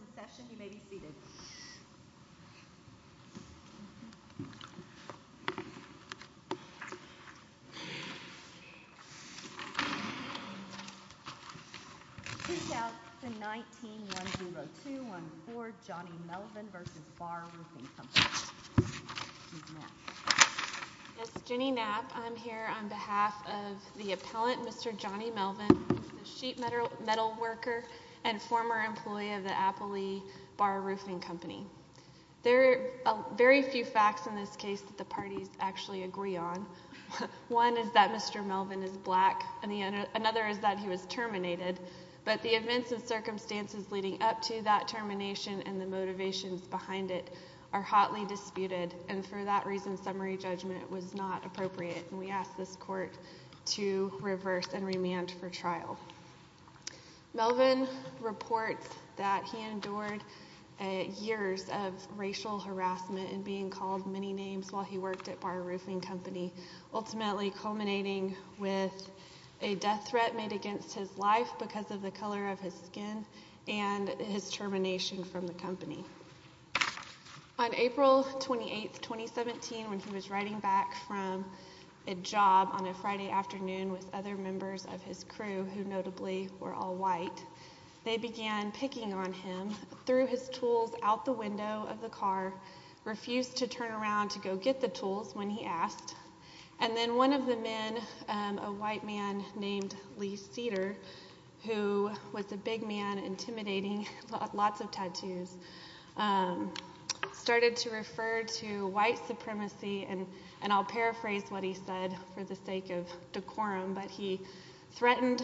In session, you may be seated. Please shout the 19-10214 Johnny Melvin v. Barr Roofing Company. Yes, Jenny Knapp. I'm here on behalf of the appellant, Mr. Johnny Melvin, the sheet metal worker and former employee of the Appley Barr Roofing Company. There are very few facts in this case that the parties actually agree on. One is that Mr. Melvin is black. Another is that he was terminated. But the events and circumstances leading up to that termination and the motivations behind it are hotly disputed. And for that reason, summary judgment was not appropriate. And we ask this court to reverse and remand for trial. Melvin reports that he endured years of racial harassment and being called many names while he worked at Barr Roofing Company, ultimately culminating with a death threat made against his life because of the color of his skin and his termination from the company. On April 28, 2017, when he was riding back from a job on a Friday afternoon with other members of his crew, who notably were all white, they began picking on him, threw his tools out the window of the car, refused to turn around to go get the tools when he asked. And then one of the men, a white man named Lee Cedar, who was a big man, intimidating, lots of tattoos, started to refer to white supremacy. And I'll paraphrase what he said for the sake of decorum, but he threatened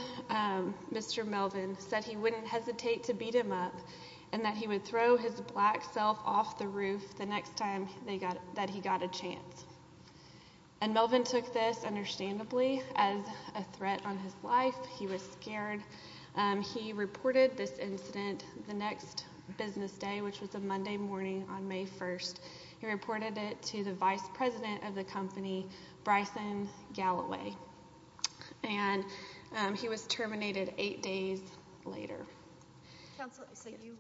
Mr. Melvin, said he wouldn't hesitate to beat him up, and that he would throw his black self off the roof the next time that he got a chance. And Melvin took this, understandably, as a threat on his life. He was scared. He reported this incident the next business day, which was a Monday morning on May 1. He reported it to the vice president of the company, Bryson Galloway, and he was terminated eight days later. Counsel, so you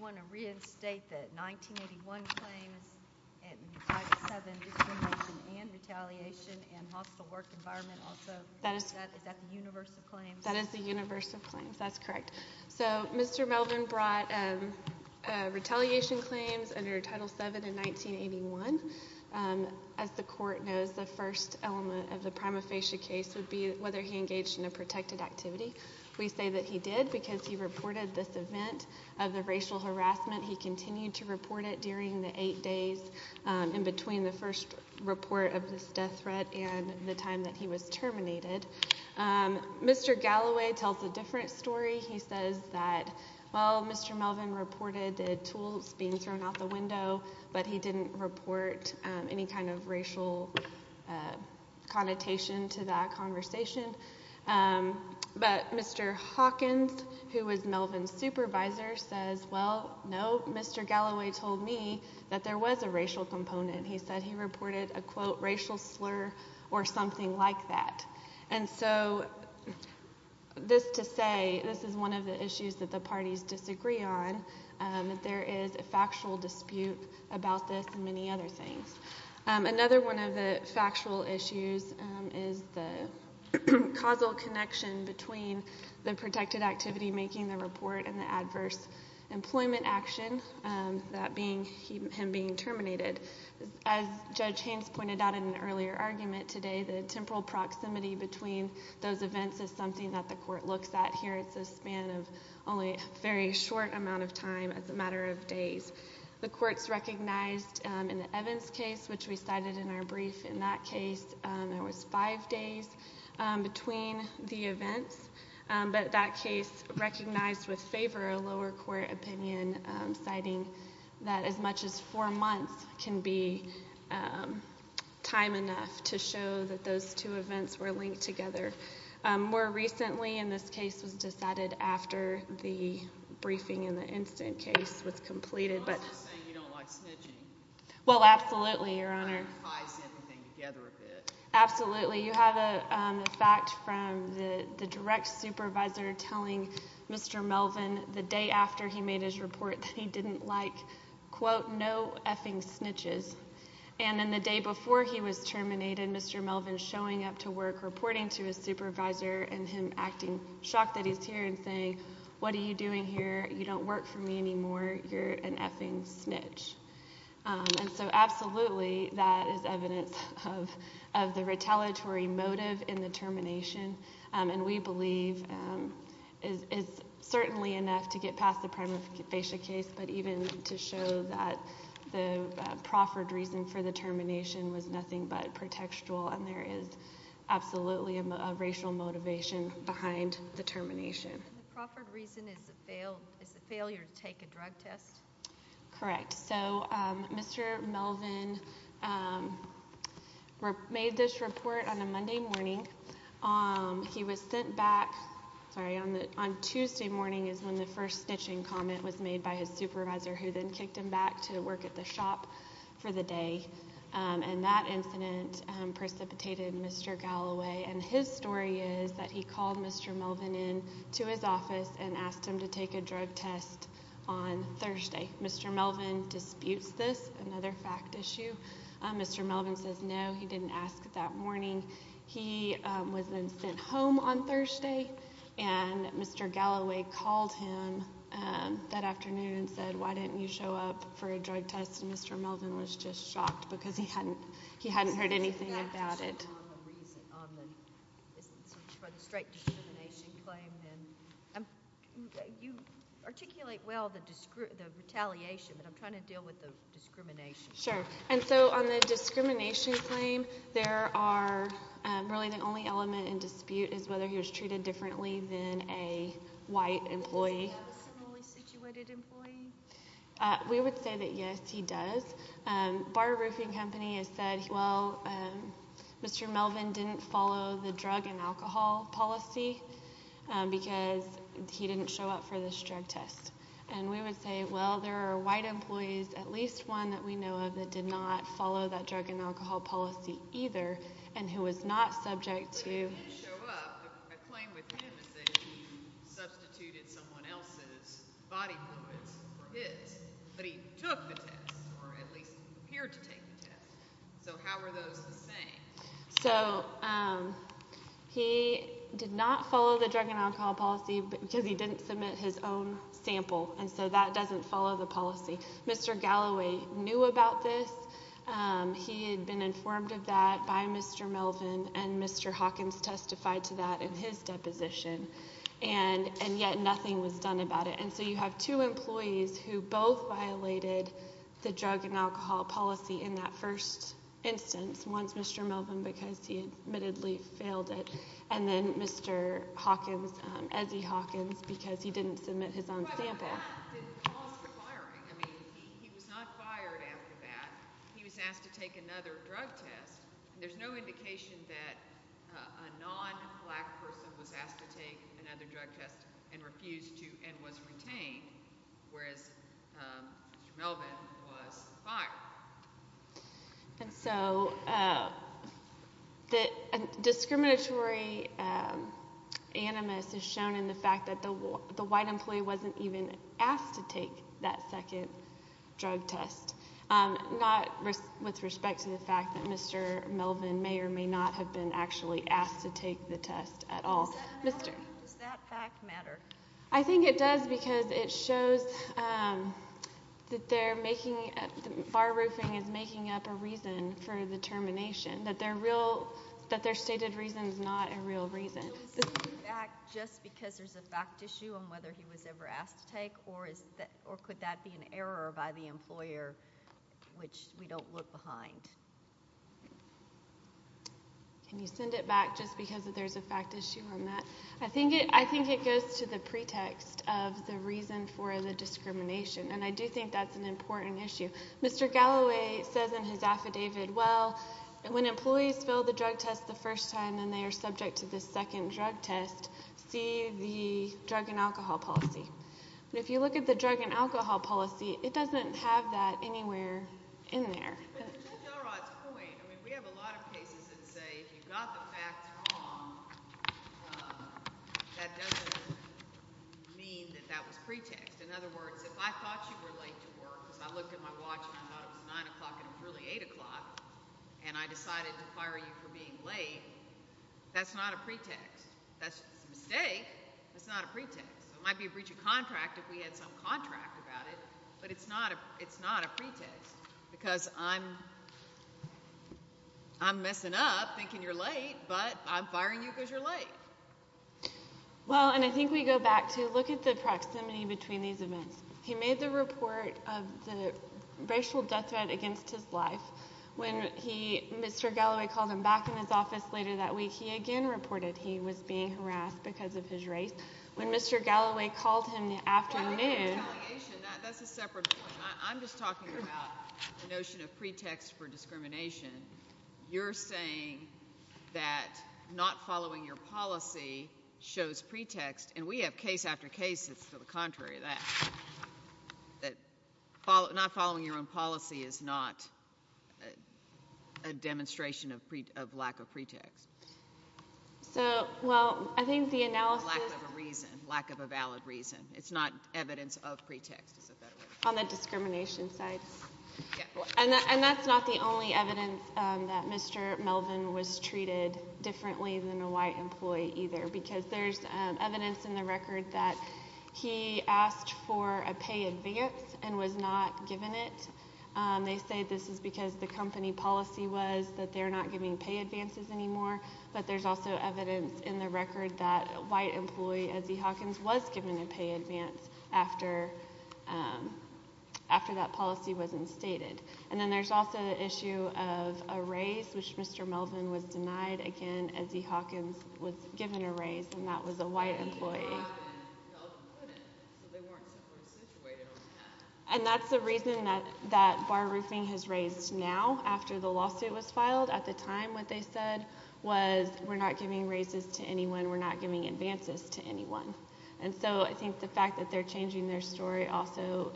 want to reinstate the 1981 claims and Title VII discrimination and retaliation and hostile work environment also? Is that the universe of claims? That is the universe of claims. That's correct. So Mr. Melvin brought retaliation claims under Title VII in 1981. As the court knows, the first element of the prima facie case would be whether he engaged in a protected activity. We say that he did because he reported this event of the racial harassment. He continued to report it during the eight days in between the first report of this death threat and the time that he was terminated. Mr. Galloway tells a different story. He says that, well, Mr. Melvin reported the tools being thrown out the window, but he didn't report any kind of racial connotation to that conversation. But Mr. Hawkins, who was Melvin's supervisor, says, well, no, Mr. Galloway told me that there was a racial component. He said he reported a, quote, racial slur or something like that. And so this to say this is one of the issues that the parties disagree on, that there is a factual dispute about this and many other things. Another one of the factual issues is the causal connection between the protected activity, making the report, and the adverse employment action, that being him being terminated. As Judge Haynes pointed out in an earlier argument today, the temporal proximity between those events is something that the court looks at here. It's a span of only a very short amount of time, as a matter of days. The courts recognized in the Evans case, which we cited in our brief in that case, there was five days between the events. But that case recognized with favor a lower court opinion, citing that as much as four months can be time enough to show that those two events were linked together. More recently in this case was decided after the briefing in the instant case was completed. I'm not just saying you don't like snitching. Well, absolutely, Your Honor. It ties everything together a bit. Absolutely. You have a fact from the direct supervisor telling Mr. Melvin the day after he made his report that he didn't like, quote, no effing snitches. And then the day before he was terminated, Mr. Melvin showing up to work reporting to his supervisor and him acting shocked that he's here and saying, what are you doing here, you don't work for me anymore, you're an effing snitch. And so absolutely that is evidence of the retaliatory motive in the termination, and we believe is certainly enough to get past the prima facie case, but even to show that the proffered reason for the termination was nothing but pretextual and there is absolutely a racial motivation behind the termination. The proffered reason is the failure to take a drug test? Correct. So Mr. Melvin made this report on a Monday morning. He was sent back on Tuesday morning is when the first snitching comment was made by his supervisor who then kicked him back to work at the shop for the day. And that incident precipitated Mr. Galloway, and his story is that he called Mr. Melvin in to his office and asked him to take a drug test on Thursday. Mr. Melvin disputes this, another fact issue. Mr. Melvin says no, he didn't ask that morning. He was then sent home on Thursday, and Mr. Galloway called him that afternoon and said, why didn't you show up for a drug test? And Mr. Melvin was just shocked because he hadn't heard anything about it. Is that a reason for the straight discrimination claim? You articulate well the retaliation, but I'm trying to deal with the discrimination. Sure. And so on the discrimination claim, there are really the only element in dispute is whether he was treated differently than a white employee. Does he have a similarly situated employee? We would say that yes, he does. Bar roofing company has said, well, Mr. Melvin didn't follow the drug and alcohol policy because he didn't show up for this drug test. And we would say, well, there are white employees, at least one that we know of, that did not follow that drug and alcohol policy either and who was not subject to. But he did show up. A claim with him is that he substituted someone else's body fluids for his, but he took the test or at least appeared to take the test. So how are those the same? So he did not follow the drug and alcohol policy because he didn't submit his own sample, and so that doesn't follow the policy. Mr. Galloway knew about this. He had been informed of that by Mr. Melvin, and Mr. Hawkins testified to that in his deposition, and yet nothing was done about it. And so you have two employees who both violated the drug and alcohol policy in that first instance. One is Mr. Melvin because he admittedly failed it, and then Mr. Hawkins, Ezzie Hawkins, because he didn't submit his own sample. But that didn't cause the firing. I mean, he was not fired after that. He was asked to take another drug test. There's no indication that a non-black person was asked to take another drug test and refused to and was retained, whereas Mr. Melvin was fired. And so the discriminatory animus is shown in the fact that the white employee wasn't even asked to take that second drug test, not with respect to the fact that Mr. Melvin may or may not have been actually asked to take the test at all. Does that fact matter? I think it does because it shows that the bar roofing is making up a reason for the termination, that their stated reason is not a real reason. Can you send it back just because there's a fact issue on whether he was ever asked to take, or could that be an error by the employer which we don't look behind? Can you send it back just because there's a fact issue on that? I think it goes to the pretext of the reason for the discrimination, and I do think that's an important issue. Mr. Galloway says in his affidavit, well, when employees fill the drug test the first time and they are subject to the second drug test, see the drug and alcohol policy. But if you look at the drug and alcohol policy, it doesn't have that anywhere in there. To Judge Elrod's point, we have a lot of cases that say if you got the facts wrong, that doesn't mean that that was pretext. In other words, if I thought you were late to work because I looked at my watch and I thought it was 9 o'clock and it was really 8 o'clock and I decided to fire you for being late, that's not a pretext. That's a mistake. That's not a pretext. It might be a breach of contract if we had some contract about it, but it's not a pretext because I'm messing up thinking you're late, but I'm firing you because you're late. Well, and I think we go back to look at the proximity between these events. He made the report of the racial death threat against his life. When Mr. Galloway called him back in his office later that week, he again reported he was being harassed because of his race. When Mr. Galloway called him in the afternoon. That's a separate point. I'm just talking about the notion of pretext for discrimination. You're saying that not following your policy shows pretext, and we have case after case that's to the contrary of that, that not following your own policy is not a demonstration of lack of pretext. So, well, I think the analysis. Lack of a reason. Lack of a valid reason. It's not evidence of pretext. On the discrimination side. And that's not the only evidence that Mr. Melvin was treated differently than a white employee either because there's evidence in the record that he asked for a pay advance and was not given it. They say this is because the company policy was that they're not giving pay advances anymore, but there's also evidence in the record that a white employee, Ezzie Hawkins, was given a pay advance after that policy was instated. And then there's also the issue of a raise, which Mr. Melvin was denied again. Ezzie Hawkins was given a raise, and that was a white employee. And that's the reason that bar roofing has raised now after the lawsuit was filed. At the time, what they said was we're not giving raises to anyone, we're not giving advances to anyone. And so I think the fact that they're changing their story also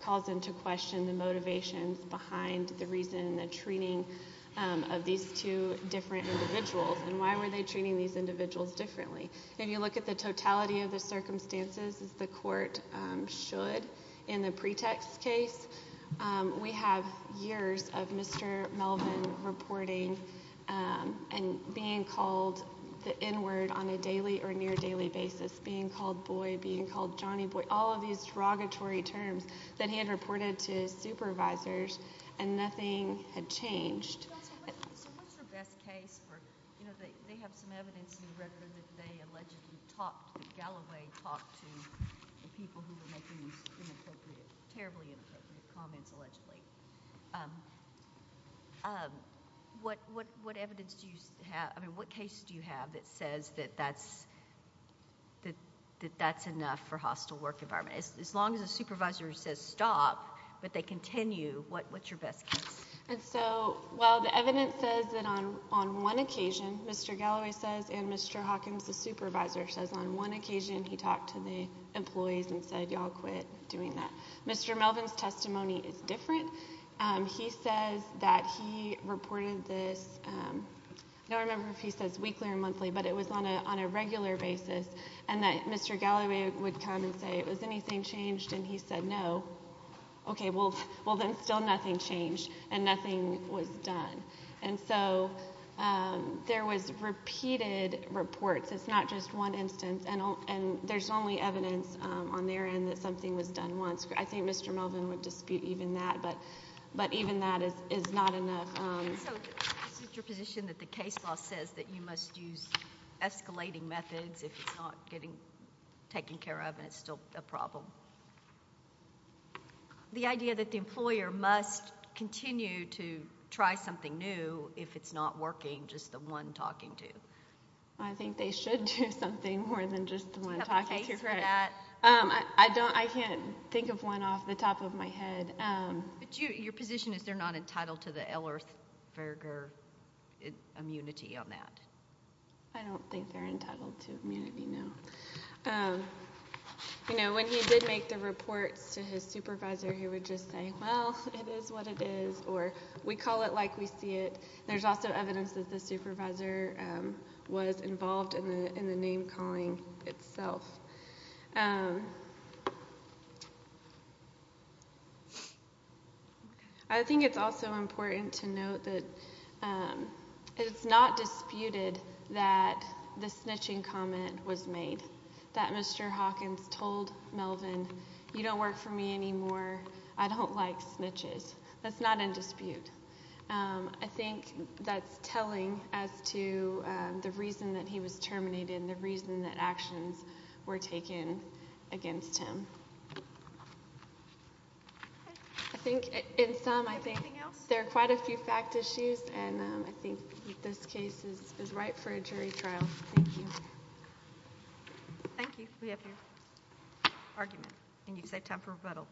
calls into question the motivations behind the reason, the treating of these two different individuals, and why were they treating these individuals differently. If you look at the totality of the circumstances, as the court should in the pretext case, we have years of Mr. Melvin reporting and being called the N-word on a daily or near-daily basis, being called boy, being called Johnny Boy, all of these derogatory terms that he had reported to his supervisors, and nothing had changed. So what's your best case for... they have some evidence in the record that they allegedly talked, that Galloway talked to the people who were making these inappropriate, terribly inappropriate comments allegedly. What evidence do you have, I mean, what case do you have that says that that's enough for hostile work environment? As long as the supervisor says stop, but they continue, what's your best case? And so while the evidence says that on one occasion, Mr. Galloway says, and Mr. Hawkins, the supervisor, says on one occasion he talked to the employees and said, y'all quit doing that, Mr. Melvin's testimony is different. He says that he reported this, I don't remember if he says weekly or monthly, but it was on a regular basis, and that Mr. Galloway would come and say, has anything changed, and he said no. Okay, well then still nothing changed, and nothing was done. And so there was repeated reports. It's not just one instance, and there's only evidence on their end that something was done once. I think Mr. Melvin would dispute even that, but even that is not enough. So this is your position that the case law says that you must use escalating methods if it's not getting taken care of and it's still a problem. The idea that the employer must continue to try something new if it's not working, just the one talking to. I think they should do something more than just the one talking to for that. I can't think of one off the top of my head. Your position is they're not entitled to the Ellersberger immunity on that? I don't think they're entitled to immunity, no. When he did make the reports to his supervisor, he would just say, well, it is what it is, or we call it like we see it. There's also evidence that the supervisor was involved in the name-calling itself. I think it's also important to note that it's not disputed that the snitching comment was made, that Mr. Hawkins told Melvin, you don't work for me anymore, I don't like snitches. That's not in dispute. I think that's telling as to the reason that he was terminated and the reason that actions were taken against him. I think in sum, I think there are quite a few fact issues, and I think this case is ripe for a jury trial. Thank you. Thank you. We have your argument. And you've saved time for rebuttal.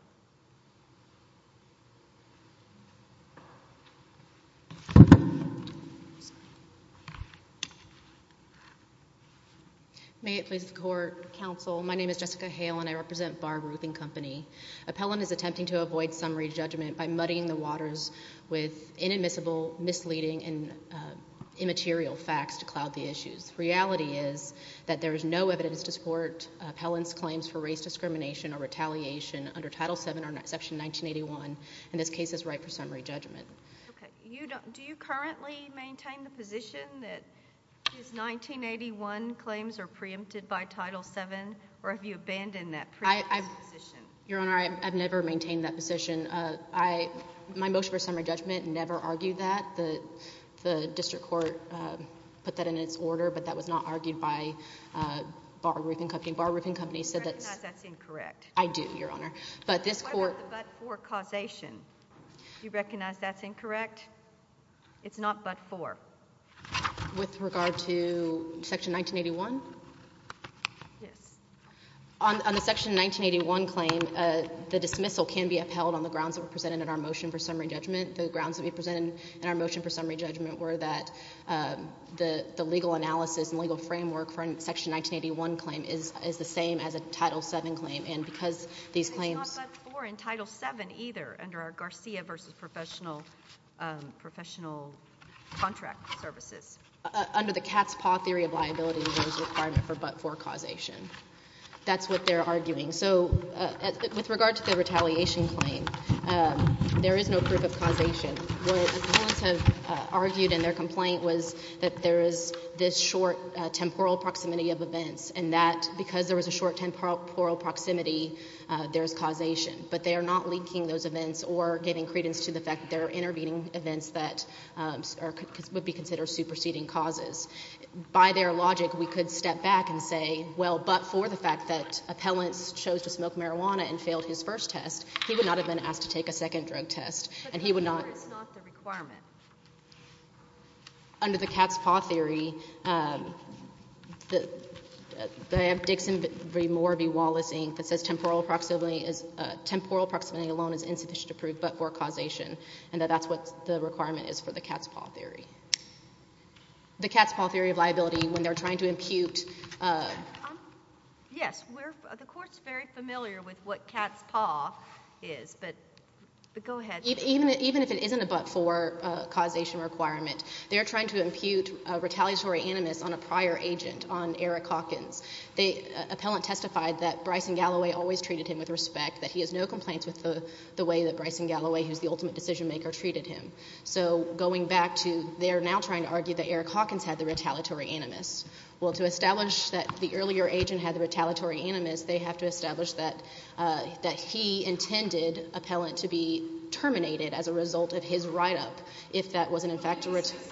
May it please the Court, Counsel. My name is Jessica Hale, and I represent Barber Roofing Company. Appellant is attempting to avoid summary judgment by muddying the waters with inadmissible, misleading, and immaterial facts to cloud the issues. The reality is that there is no evidence to support Appellant's claims for race discrimination or retaliation under Title VII or Section 1981, and this case is ripe for summary judgment. Okay. Do you currently maintain the position that his 1981 claims are preempted by Title VII, or have you abandoned that preempted position? Your Honor, I've never maintained that position. My motion for summary judgment never argued that. The district court put that in its order, but that was not argued by Barber Roofing Company. Barber Roofing Company said that's — I recognize that's incorrect. I do, Your Honor. But this court — What about the but-for causation? Do you recognize that's incorrect? It's not but-for. With regard to Section 1981? Yes. On the Section 1981 claim, the dismissal can be upheld on the grounds that were presented in our motion for summary judgment. The grounds that we presented in our motion for summary judgment were that the legal analysis and legal framework for a Section 1981 claim is the same as a Title VII claim, and because these claims — It's not but-for in Title VII either under our Garcia v. Professional Contract Services. Under the cat's paw theory of liability, there is a requirement for but-for causation. That's what they're arguing. So with regard to the retaliation claim, there is no proof of causation. What appellants have argued in their complaint was that there is this short temporal proximity of events and that because there was a short temporal proximity, there is causation. But they are not linking those events or giving credence to the fact that there are intervening events that would be considered superseding causes. By their logic, we could step back and say, well, but for the fact that appellants chose to smoke marijuana and failed his first test, he would not have been asked to take a second drug test, and he would not— But but-for is not the requirement. Under the cat's paw theory, they have Dixon v. Morby-Wallace, Inc., that says temporal proximity alone is insufficient to prove but-for causation, and that that's what the requirement is for the cat's paw theory. The cat's paw theory of liability, when they're trying to impute— Yes, the Court's very familiar with what cat's paw is, but go ahead. Even if it isn't a but-for causation requirement, they're trying to impute retaliatory animus on a prior agent, on Eric Hawkins. The appellant testified that Bryson Galloway always treated him with respect, that he has no complaints with the way that Bryson Galloway, who's the ultimate decision-maker, treated him. So going back to they're now trying to argue that Eric Hawkins had the retaliatory animus. Well, to establish that the earlier agent had the retaliatory animus, they have to establish that he intended appellant to be terminated as a result of his write-up if that wasn't in fact a— Didn't he say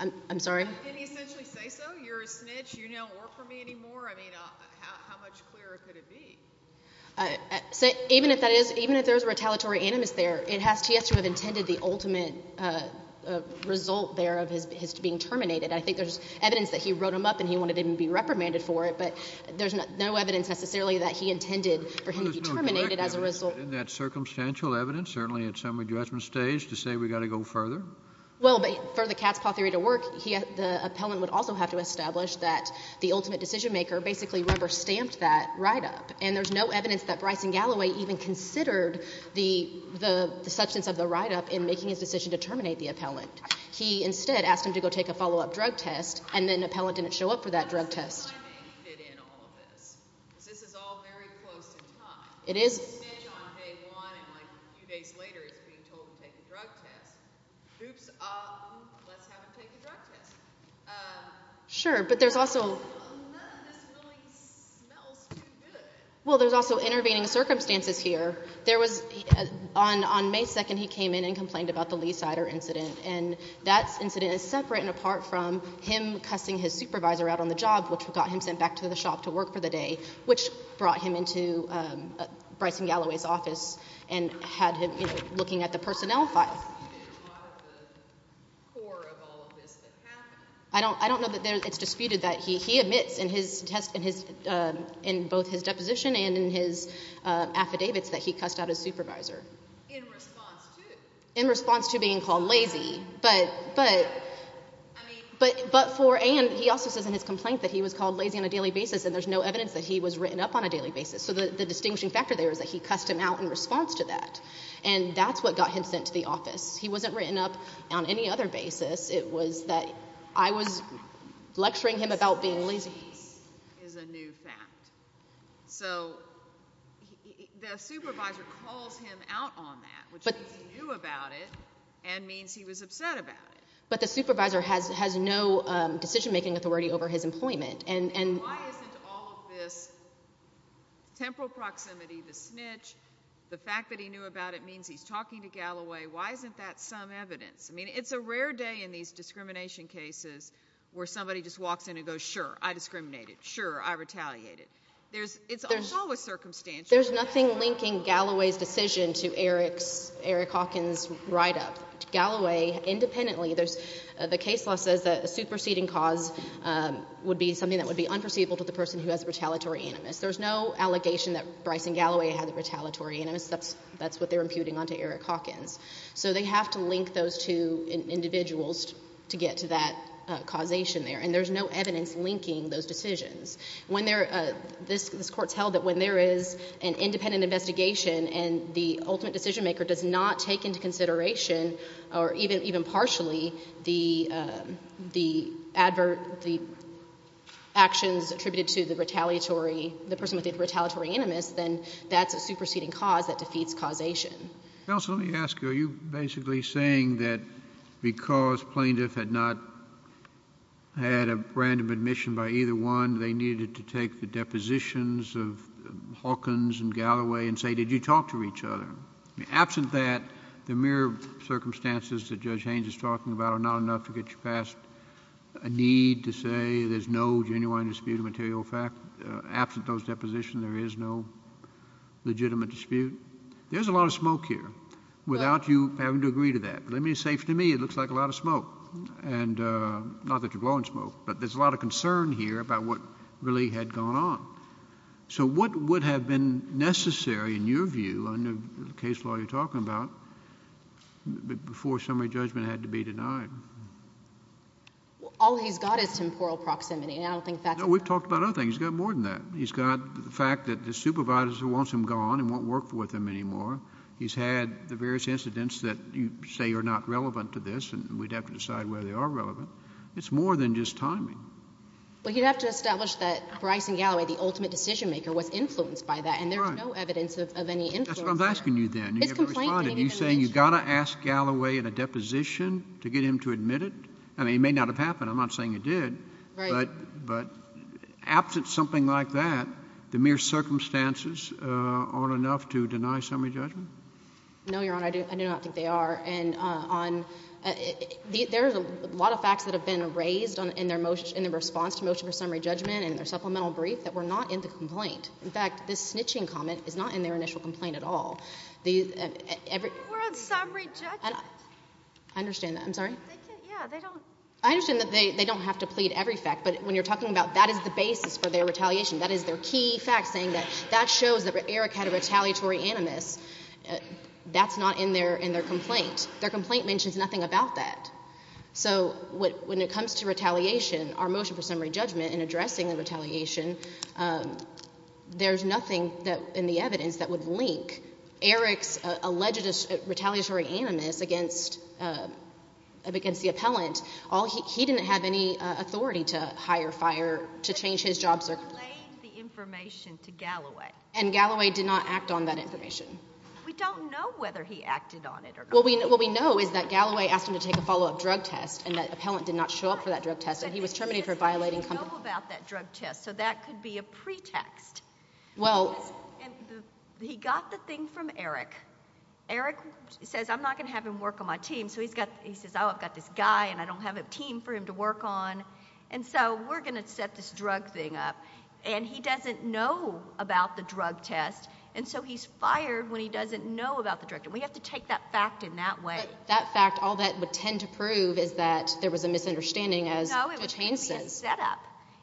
so? I'm sorry? Didn't he essentially say so? You're a snitch. You don't work for me anymore. I mean, how much clearer could it be? So even if that is—even if there is a retaliatory animus there, he has to have intended the ultimate result there of his being terminated. I think there's evidence that he wrote him up and he wanted him to be reprimanded for it, but there's no evidence necessarily that he intended for him to be terminated as a result— Well, there's no direct evidence in that circumstantial evidence, certainly at some redressment stage, to say we've got to go further. Well, but for the cat's paw theory to work, the appellant would also have to establish that the ultimate decision-maker basically rubber-stamped that write-up, and there's no evidence that Bryson Galloway even considered the substance of the write-up in making his decision to terminate the appellant. He instead asked him to go take a follow-up drug test, and then an appellant didn't show up for that drug test. This is why I made you fit in all of this, because this is all very close in time. It is. He's a snitch on day one, and a few days later he's being told to take a drug test. Oops. Let's have him take a drug test. Sure, but there's also— None of this really smells too good. Well, there's also intervening circumstances here. On May 2nd, he came in and complained about the Lee cider incident, and that incident is separate and apart from him cussing his supervisor out on the job, which got him sent back to the shop to work for the day, which brought him into Bryson Galloway's office and had him looking at the personnel file. Is there a dispute at the core of all of this that happened? I don't know that it's disputed that he admits in both his deposition and in his affidavits that he cussed out his supervisor. In response to? In response to being called lazy, but for— and he also says in his complaint that he was called lazy on a daily basis, and there's no evidence that he was written up on a daily basis. So the distinguishing factor there is that he cussed him out in response to that, and that's what got him sent to the office. He wasn't written up on any other basis. It was that I was lecturing him about being lazy. Cussing is a new fact. So the supervisor calls him out on that, which means he knew about it and means he was upset about it. But the supervisor has no decision-making authority over his employment. Why isn't all of this temporal proximity, the snitch, the fact that he knew about it means he's talking to Galloway, why isn't that some evidence? I mean, it's a rare day in these discrimination cases where somebody just walks in and goes, sure, I discriminated, sure, I retaliated. It's always circumstantial. There's nothing linking Galloway's decision to Eric Hawkins' write-up. Galloway independently, the case law says that a superseding cause would be something that would be unforeseeable to the person who has a retaliatory animus. There's no allegation that Bryson Galloway had a retaliatory animus. That's what they're imputing onto Eric Hawkins. So they have to link those two individuals to get to that causation there, and there's no evidence linking those decisions. This Court's held that when there is an independent investigation and the ultimate decision-maker does not take into consideration or even partially the actions attributed to the retaliatory, the person with the retaliatory animus, then that's a superseding cause that defeats causation. Counsel, let me ask you, are you basically saying that because plaintiff had not had a random admission by either one, they needed to take the depositions of Hawkins and Galloway and say did you talk to each other? Absent that, the mere circumstances that Judge Haynes is talking about are not enough to get you past a need to say there's no genuine dispute of material fact. Absent those depositions, there is no legitimate dispute. There's a lot of smoke here. Without you having to agree to that. Let me say to me it looks like a lot of smoke, and not that you're blowing smoke, but there's a lot of concern here about what really had gone on. So what would have been necessary in your view, under the case law you're talking about, before summary judgment had to be denied? All he's got is temporal proximity. No, we've talked about other things. He's got more than that. He's got the fact that the supervisor wants him gone and won't work with him anymore. He's had the various incidents that you say are not relevant to this and we'd have to decide whether they are relevant. It's more than just timing. Well, you'd have to establish that Bryce and Galloway, the ultimate decision maker, was influenced by that, and there's no evidence of any influence there. That's what I'm asking you then. You haven't responded. You're saying you've got to ask Galloway in a deposition to get him to admit it? I mean, it may not have happened. I'm not saying it did. Right. But absent something like that, the mere circumstances aren't enough to deny summary judgment? No, Your Honor, I do not think they are. There are a lot of facts that have been raised in their response to motion for summary judgment and their supplemental brief that were not in the complaint. In fact, this snitching comment is not in their initial complaint at all. We're on summary judgment. I understand that. I'm sorry? Yeah, they don't. I understand that they don't have to plead every fact, but when you're talking about that is the basis for their retaliation, that is their key fact saying that that shows that Eric had a retaliatory animus, that's not in their complaint. Their complaint mentions nothing about that. So when it comes to retaliation, our motion for summary judgment in addressing the retaliation, there's nothing in the evidence that would link Eric's alleged retaliatory animus against the appellant. He didn't have any authority to hire, fire, to change his job circle. He laid the information to Galloway. And Galloway did not act on that information. We don't know whether he acted on it or not. What we know is that Galloway asked him to take a follow-up drug test and that appellant did not show up for that drug test, and he was terminated for violating complaint. He didn't know about that drug test, so that could be a pretext. He got the thing from Eric. Eric says, I'm not going to have him work on my team. So he says, oh, I've got this guy, and I don't have a team for him to work on, and so we're going to set this drug thing up. And he doesn't know about the drug test, and so he's fired when he doesn't know about the drug test. We have to take that fact in that way. But that fact, all that would tend to prove is that there was a misunderstanding, as Judge Haynes says. No, it could be a setup.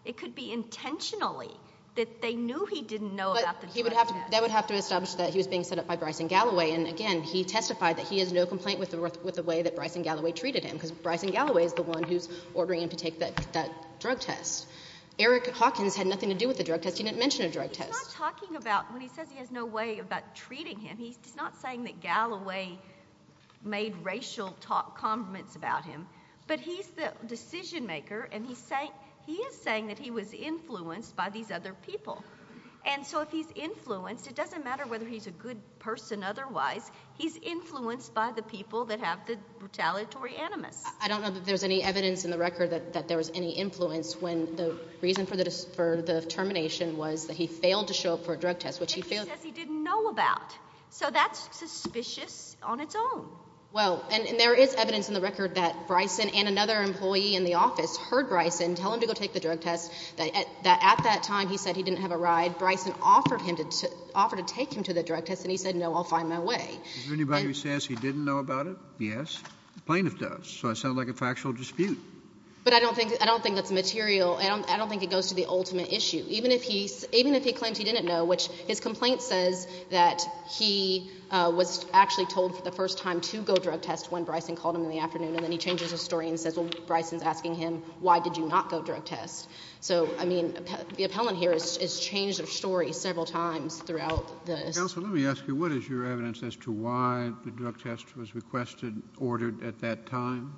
It could be intentionally that they knew he didn't know about the drug test. But that would have to establish that he was being set up by Bryson Galloway. And, again, he testified that he has no complaint with the way that Bryson Galloway treated him because Bryson Galloway is the one who's ordering him to take that drug test. Eric Hawkins had nothing to do with the drug test. He didn't mention a drug test. He's not talking about when he says he has no way about treating him. He's not saying that Galloway made racial comments about him. But he's the decision maker, and he is saying that he was influenced by these other people. And so if he's influenced, it doesn't matter whether he's a good person otherwise. He's influenced by the people that have the retaliatory animus. I don't know that there's any evidence in the record that there was any influence when the reason for the termination was that he failed to show up for a drug test, which he failed. He says he didn't know about. So that's suspicious on its own. Well, and there is evidence in the record that Bryson and another employee in the office heard Bryson tell him to go take the drug test, that at that time he said he didn't have a ride. Bryson offered to take him to the drug test, and he said, no, I'll find my way. Is there anybody who says he didn't know about it? Yes. The plaintiff does. So it sounded like a factual dispute. But I don't think that's material. I don't think it goes to the ultimate issue. Even if he claims he didn't know, which his complaint says that he was actually told for the first time to go drug test when Bryson called him in the afternoon, and then he changes his story and says, well, Bryson's asking him, why did you not go drug test? So, I mean, the appellant here has changed their story several times throughout this. Counsel, let me ask you, what is your evidence as to why the drug test was requested, ordered at that time?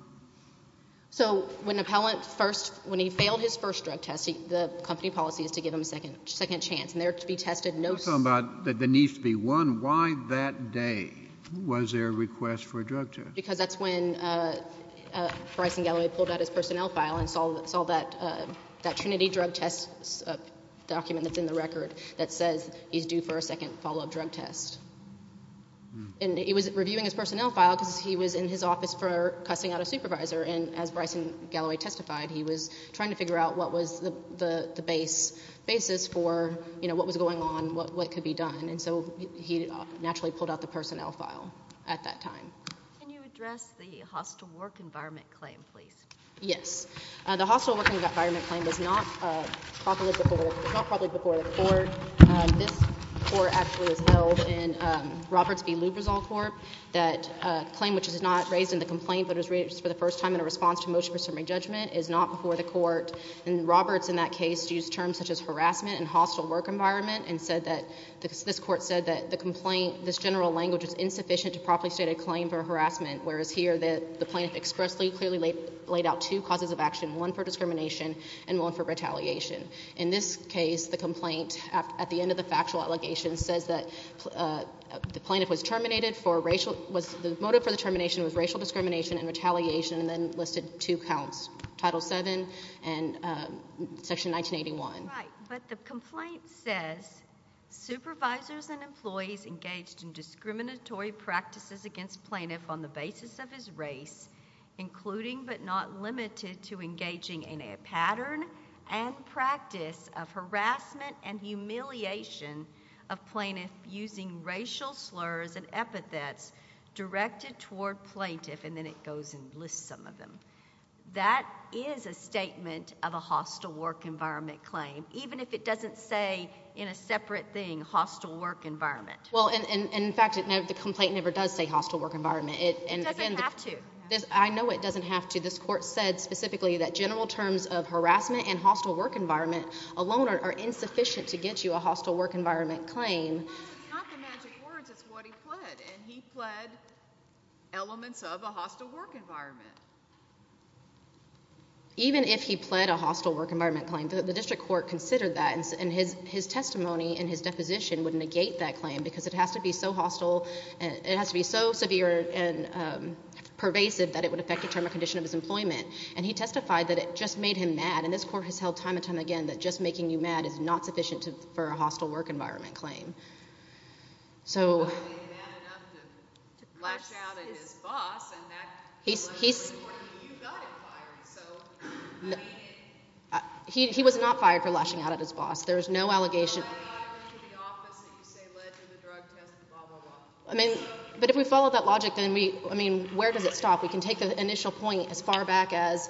So when an appellant first, when he failed his first drug test, the company policy is to give him a second chance, and there to be tested no second. I'm talking about there needs to be one. Why that day was there a request for a drug test? Because that's when Bryson Galloway pulled out his personnel file and saw that Trinity drug test document that's in the record that says he's due for a second follow-up drug test. And he was reviewing his personnel file because he was in his office for cussing out a supervisor, and as Bryson Galloway testified, he was trying to figure out what was the basis for what was going on, what could be done. And so he naturally pulled out the personnel file at that time. Can you address the hostile work environment claim, please? Yes. The hostile work environment claim was not properly before the court. This court actually has held in Roberts v. Lubrizol Court that a claim which is not raised in the complaint but is raised for the first time in a response to motion for summary judgment is not before the court. And Roberts in that case used terms such as harassment and hostile work environment and said that this court said that the complaint, this general language, is insufficient to properly state a claim for harassment, whereas here the plaintiff expressly clearly laid out two causes of action, one for discrimination and one for retaliation. In this case, the complaint at the end of the factual allegation says that the plaintiff was terminated for racial – the motive for the termination was racial discrimination and retaliation, and then listed two counts, Title VII and Section 1981. Right, but the complaint says supervisors and employees engaged in discriminatory practices against plaintiff on the basis of his race, including but not limited to engaging in a pattern and practice of harassment and humiliation of plaintiff using racial slurs and epithets directed toward plaintiff, and then it goes and lists some of them. That is a statement of a hostile work environment claim, even if it doesn't say in a separate thing hostile work environment. Well, and in fact, the complaint never does say hostile work environment. It doesn't have to. I know it doesn't have to. This court said specifically that general terms of harassment and hostile work environment alone are insufficient to get you a hostile work environment claim. It's not the magic words. It's what he pled, and he pled elements of a hostile work environment. Even if he pled a hostile work environment claim, the district court considered that, and his testimony and his deposition would negate that claim because it has to be so hostile and it has to be so severe and pervasive that it would affect the term or condition of his employment, and he testified that it just made him mad, and this court has held time and time again that just making you mad is not sufficient for a hostile work environment claim. So he was not fired for lashing out at his boss. There was no allegation. But if we follow that logic, then where does it stop? We can take the initial point as far back as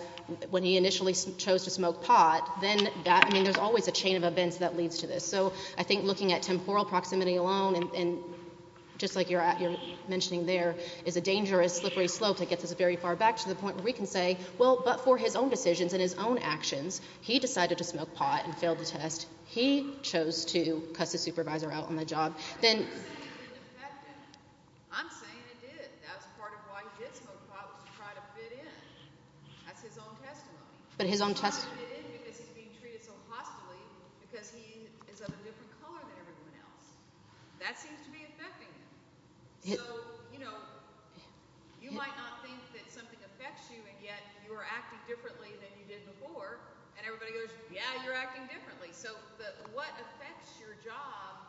when he initially chose to smoke pot. Then that, I mean, there's always a chain of events that leads to this. So I think looking at temporal proximity alone, and just like you're mentioning there, is a dangerous, slippery slope that gets us very far back to the point where we can say, well, but for his own decisions and his own actions, he decided to smoke pot and failed the test. He chose to cuss his supervisor out on the job. I'm saying it did. That's part of why he did smoke pot was to try to fit in. That's his own testimony. But his own testimony. Because he's being treated so hostilely because he is of a different color than everyone else. That seems to be affecting him. So, you know, you might not think that something affects you, and yet you are acting differently than you did before. And everybody goes, yeah, you're acting differently. So what affects your job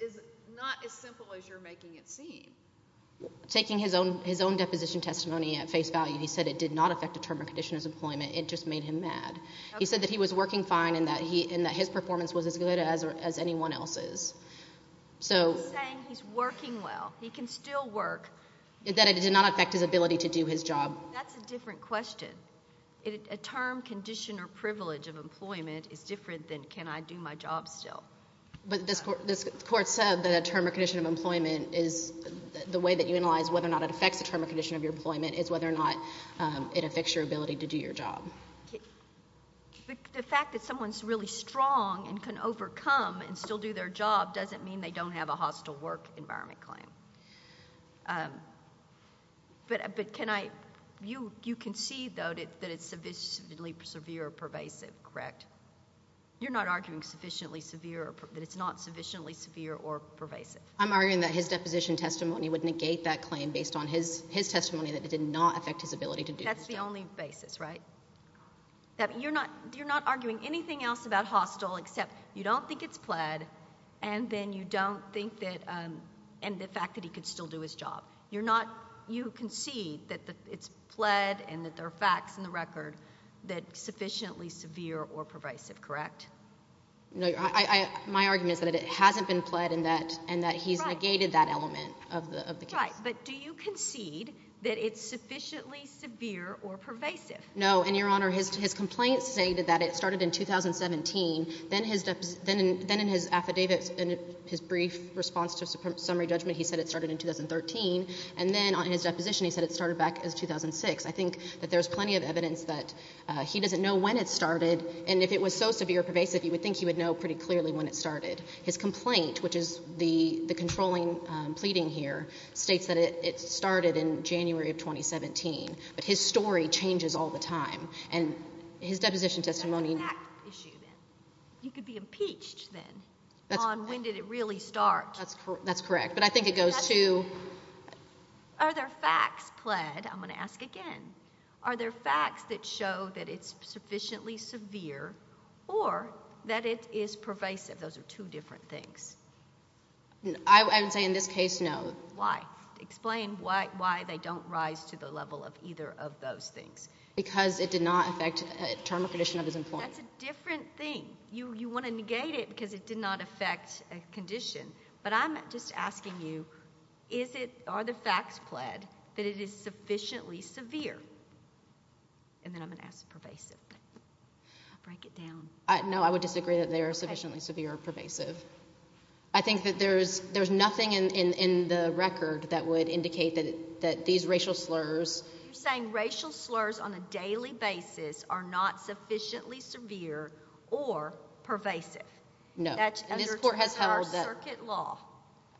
is not as simple as you're making it seem. Taking his own deposition testimony at face value, he said it did not affect a term or condition of his employment. It just made him mad. He said that he was working fine and that his performance was as good as anyone else's. He's saying he's working well. He can still work. That it did not affect his ability to do his job. That's a different question. A term, condition, or privilege of employment is different than can I do my job still. But this court said that a term or condition of employment is the way that you analyze whether or not it affects a term or condition of your employment is whether or not it affects your ability to do your job. The fact that someone is really strong and can overcome and still do their job doesn't mean they don't have a hostile work environment claim. But can I, you concede though that it's sufficiently severe or pervasive, correct? You're not arguing that it's not sufficiently severe or pervasive. I'm arguing that his deposition testimony would negate that claim based on his testimony that it did not affect his ability to do his job. That's the only basis, right? You're not arguing anything else about hostile except you don't think it's plaid and then you don't think that and the fact that he could still do his job. You're not, you concede that it's plaid and that there are facts in the record that sufficiently severe or pervasive, correct? No, my argument is that it hasn't been plaid and that he's negated that element of the case. Right, but do you concede that it's sufficiently severe or pervasive? No, and Your Honor, his complaint stated that it started in 2017. Then in his affidavit, in his brief response to summary judgment, he said it started in 2013. And then on his deposition he said it started back in 2006. I think that there's plenty of evidence that he doesn't know when it started and if it was so severe or pervasive, you would think he would know pretty clearly when it started. His complaint, which is the controlling pleading here, states that it started in January of 2017. But his story changes all the time and his deposition testimony— It's a fact issue then. You could be impeached then on when did it really start. That's correct, but I think it goes to— Are there facts plaid? I'm going to ask again. Are there facts that show that it's sufficiently severe or that it is pervasive? Those are two different things. I would say in this case, no. Why? Explain why they don't rise to the level of either of those things. Because it did not affect a term or condition of his employment. That's a different thing. You want to negate it because it did not affect a condition. But I'm just asking you, are the facts plaid that it is sufficiently severe? And then I'm going to ask pervasive. Break it down. No, I would disagree that they are sufficiently severe or pervasive. I think that there's nothing in the record that would indicate that these racial slurs— You're saying racial slurs on a daily basis are not sufficiently severe or pervasive. No. That's under our circuit law.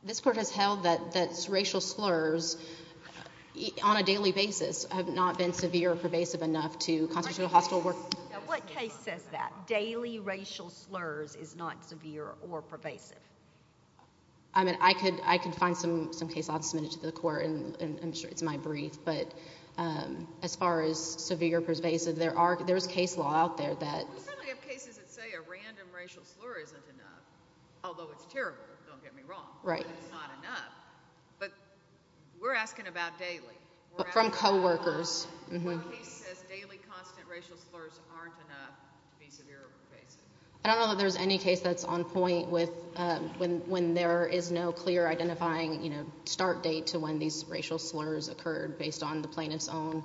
This court has held that racial slurs on a daily basis have not been severe or pervasive enough to constitute a hostile work— Now, what case says that? Daily racial slurs is not severe or pervasive? I mean, I could find some case law and submit it to the court, and I'm sure it's my brief. But as far as severe or pervasive, there's case law out there that— We certainly have cases that say a random racial slur isn't enough, although it's terrible, don't get me wrong. Right. But it's not enough. But we're asking about daily. From coworkers. What case says daily, constant racial slurs aren't enough to be severe or pervasive? I don't know that there's any case that's on point with when there is no clear identifying start date to when these racial slurs occurred, based on the plaintiff's own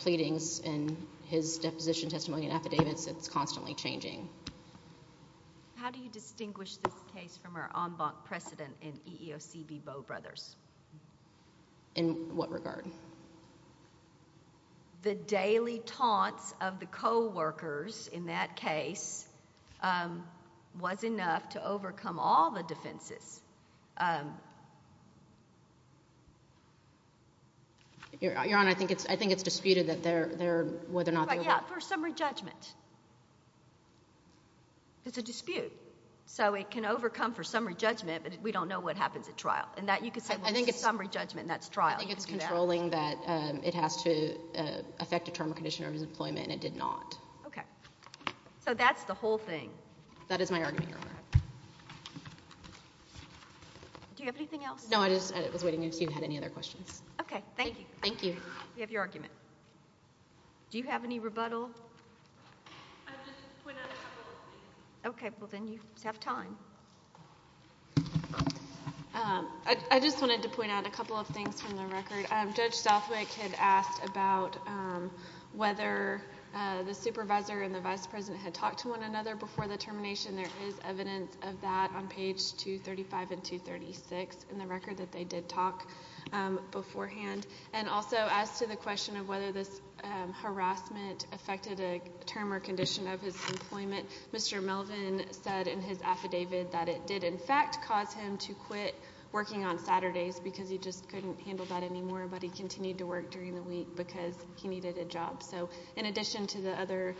pleadings and his deposition testimony and affidavits. It's constantly changing. How do you distinguish this case from our en banc precedent in EEOC v. Bowe Brothers? In what regard? The daily taunts of the coworkers in that case was enough to overcome all the defenses. Your Honor, I think it's disputed whether or not they were— For summary judgment. It's a dispute. So it can overcome for summary judgment, but we don't know what happens at trial. I think it's controlling that it has to affect a term or condition of his employment, and it did not. Okay. So that's the whole thing. That is my argument, Your Honor. Do you have anything else? No, I was waiting to see if you had any other questions. Okay. Thank you. Thank you. We have your argument. Do you have any rebuttal? I just went out of time by listening. Okay. Well, then you have time. I just wanted to point out a couple of things from the record. Judge Southwick had asked about whether the supervisor and the vice president had talked to one another before the termination. There is evidence of that on page 235 and 236 in the record that they did talk beforehand. And also as to the question of whether this harassment affected a term or condition of his employment, Mr. Melvin said in his affidavit that it did in fact cause him to quit working on Saturdays because he just couldn't handle that anymore, but he continued to work during the week because he needed a job. So in addition to the other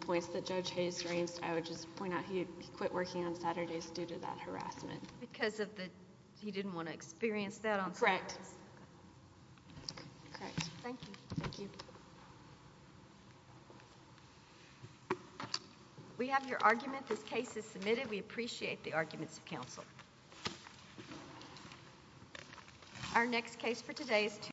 points that Judge Hayes raised, I would just point out he quit working on Saturdays due to that harassment. Because he didn't want to experience that on Saturdays? Correct. Correct. Thank you. Thank you. We have your argument. This case is submitted. We appreciate the arguments of counsel.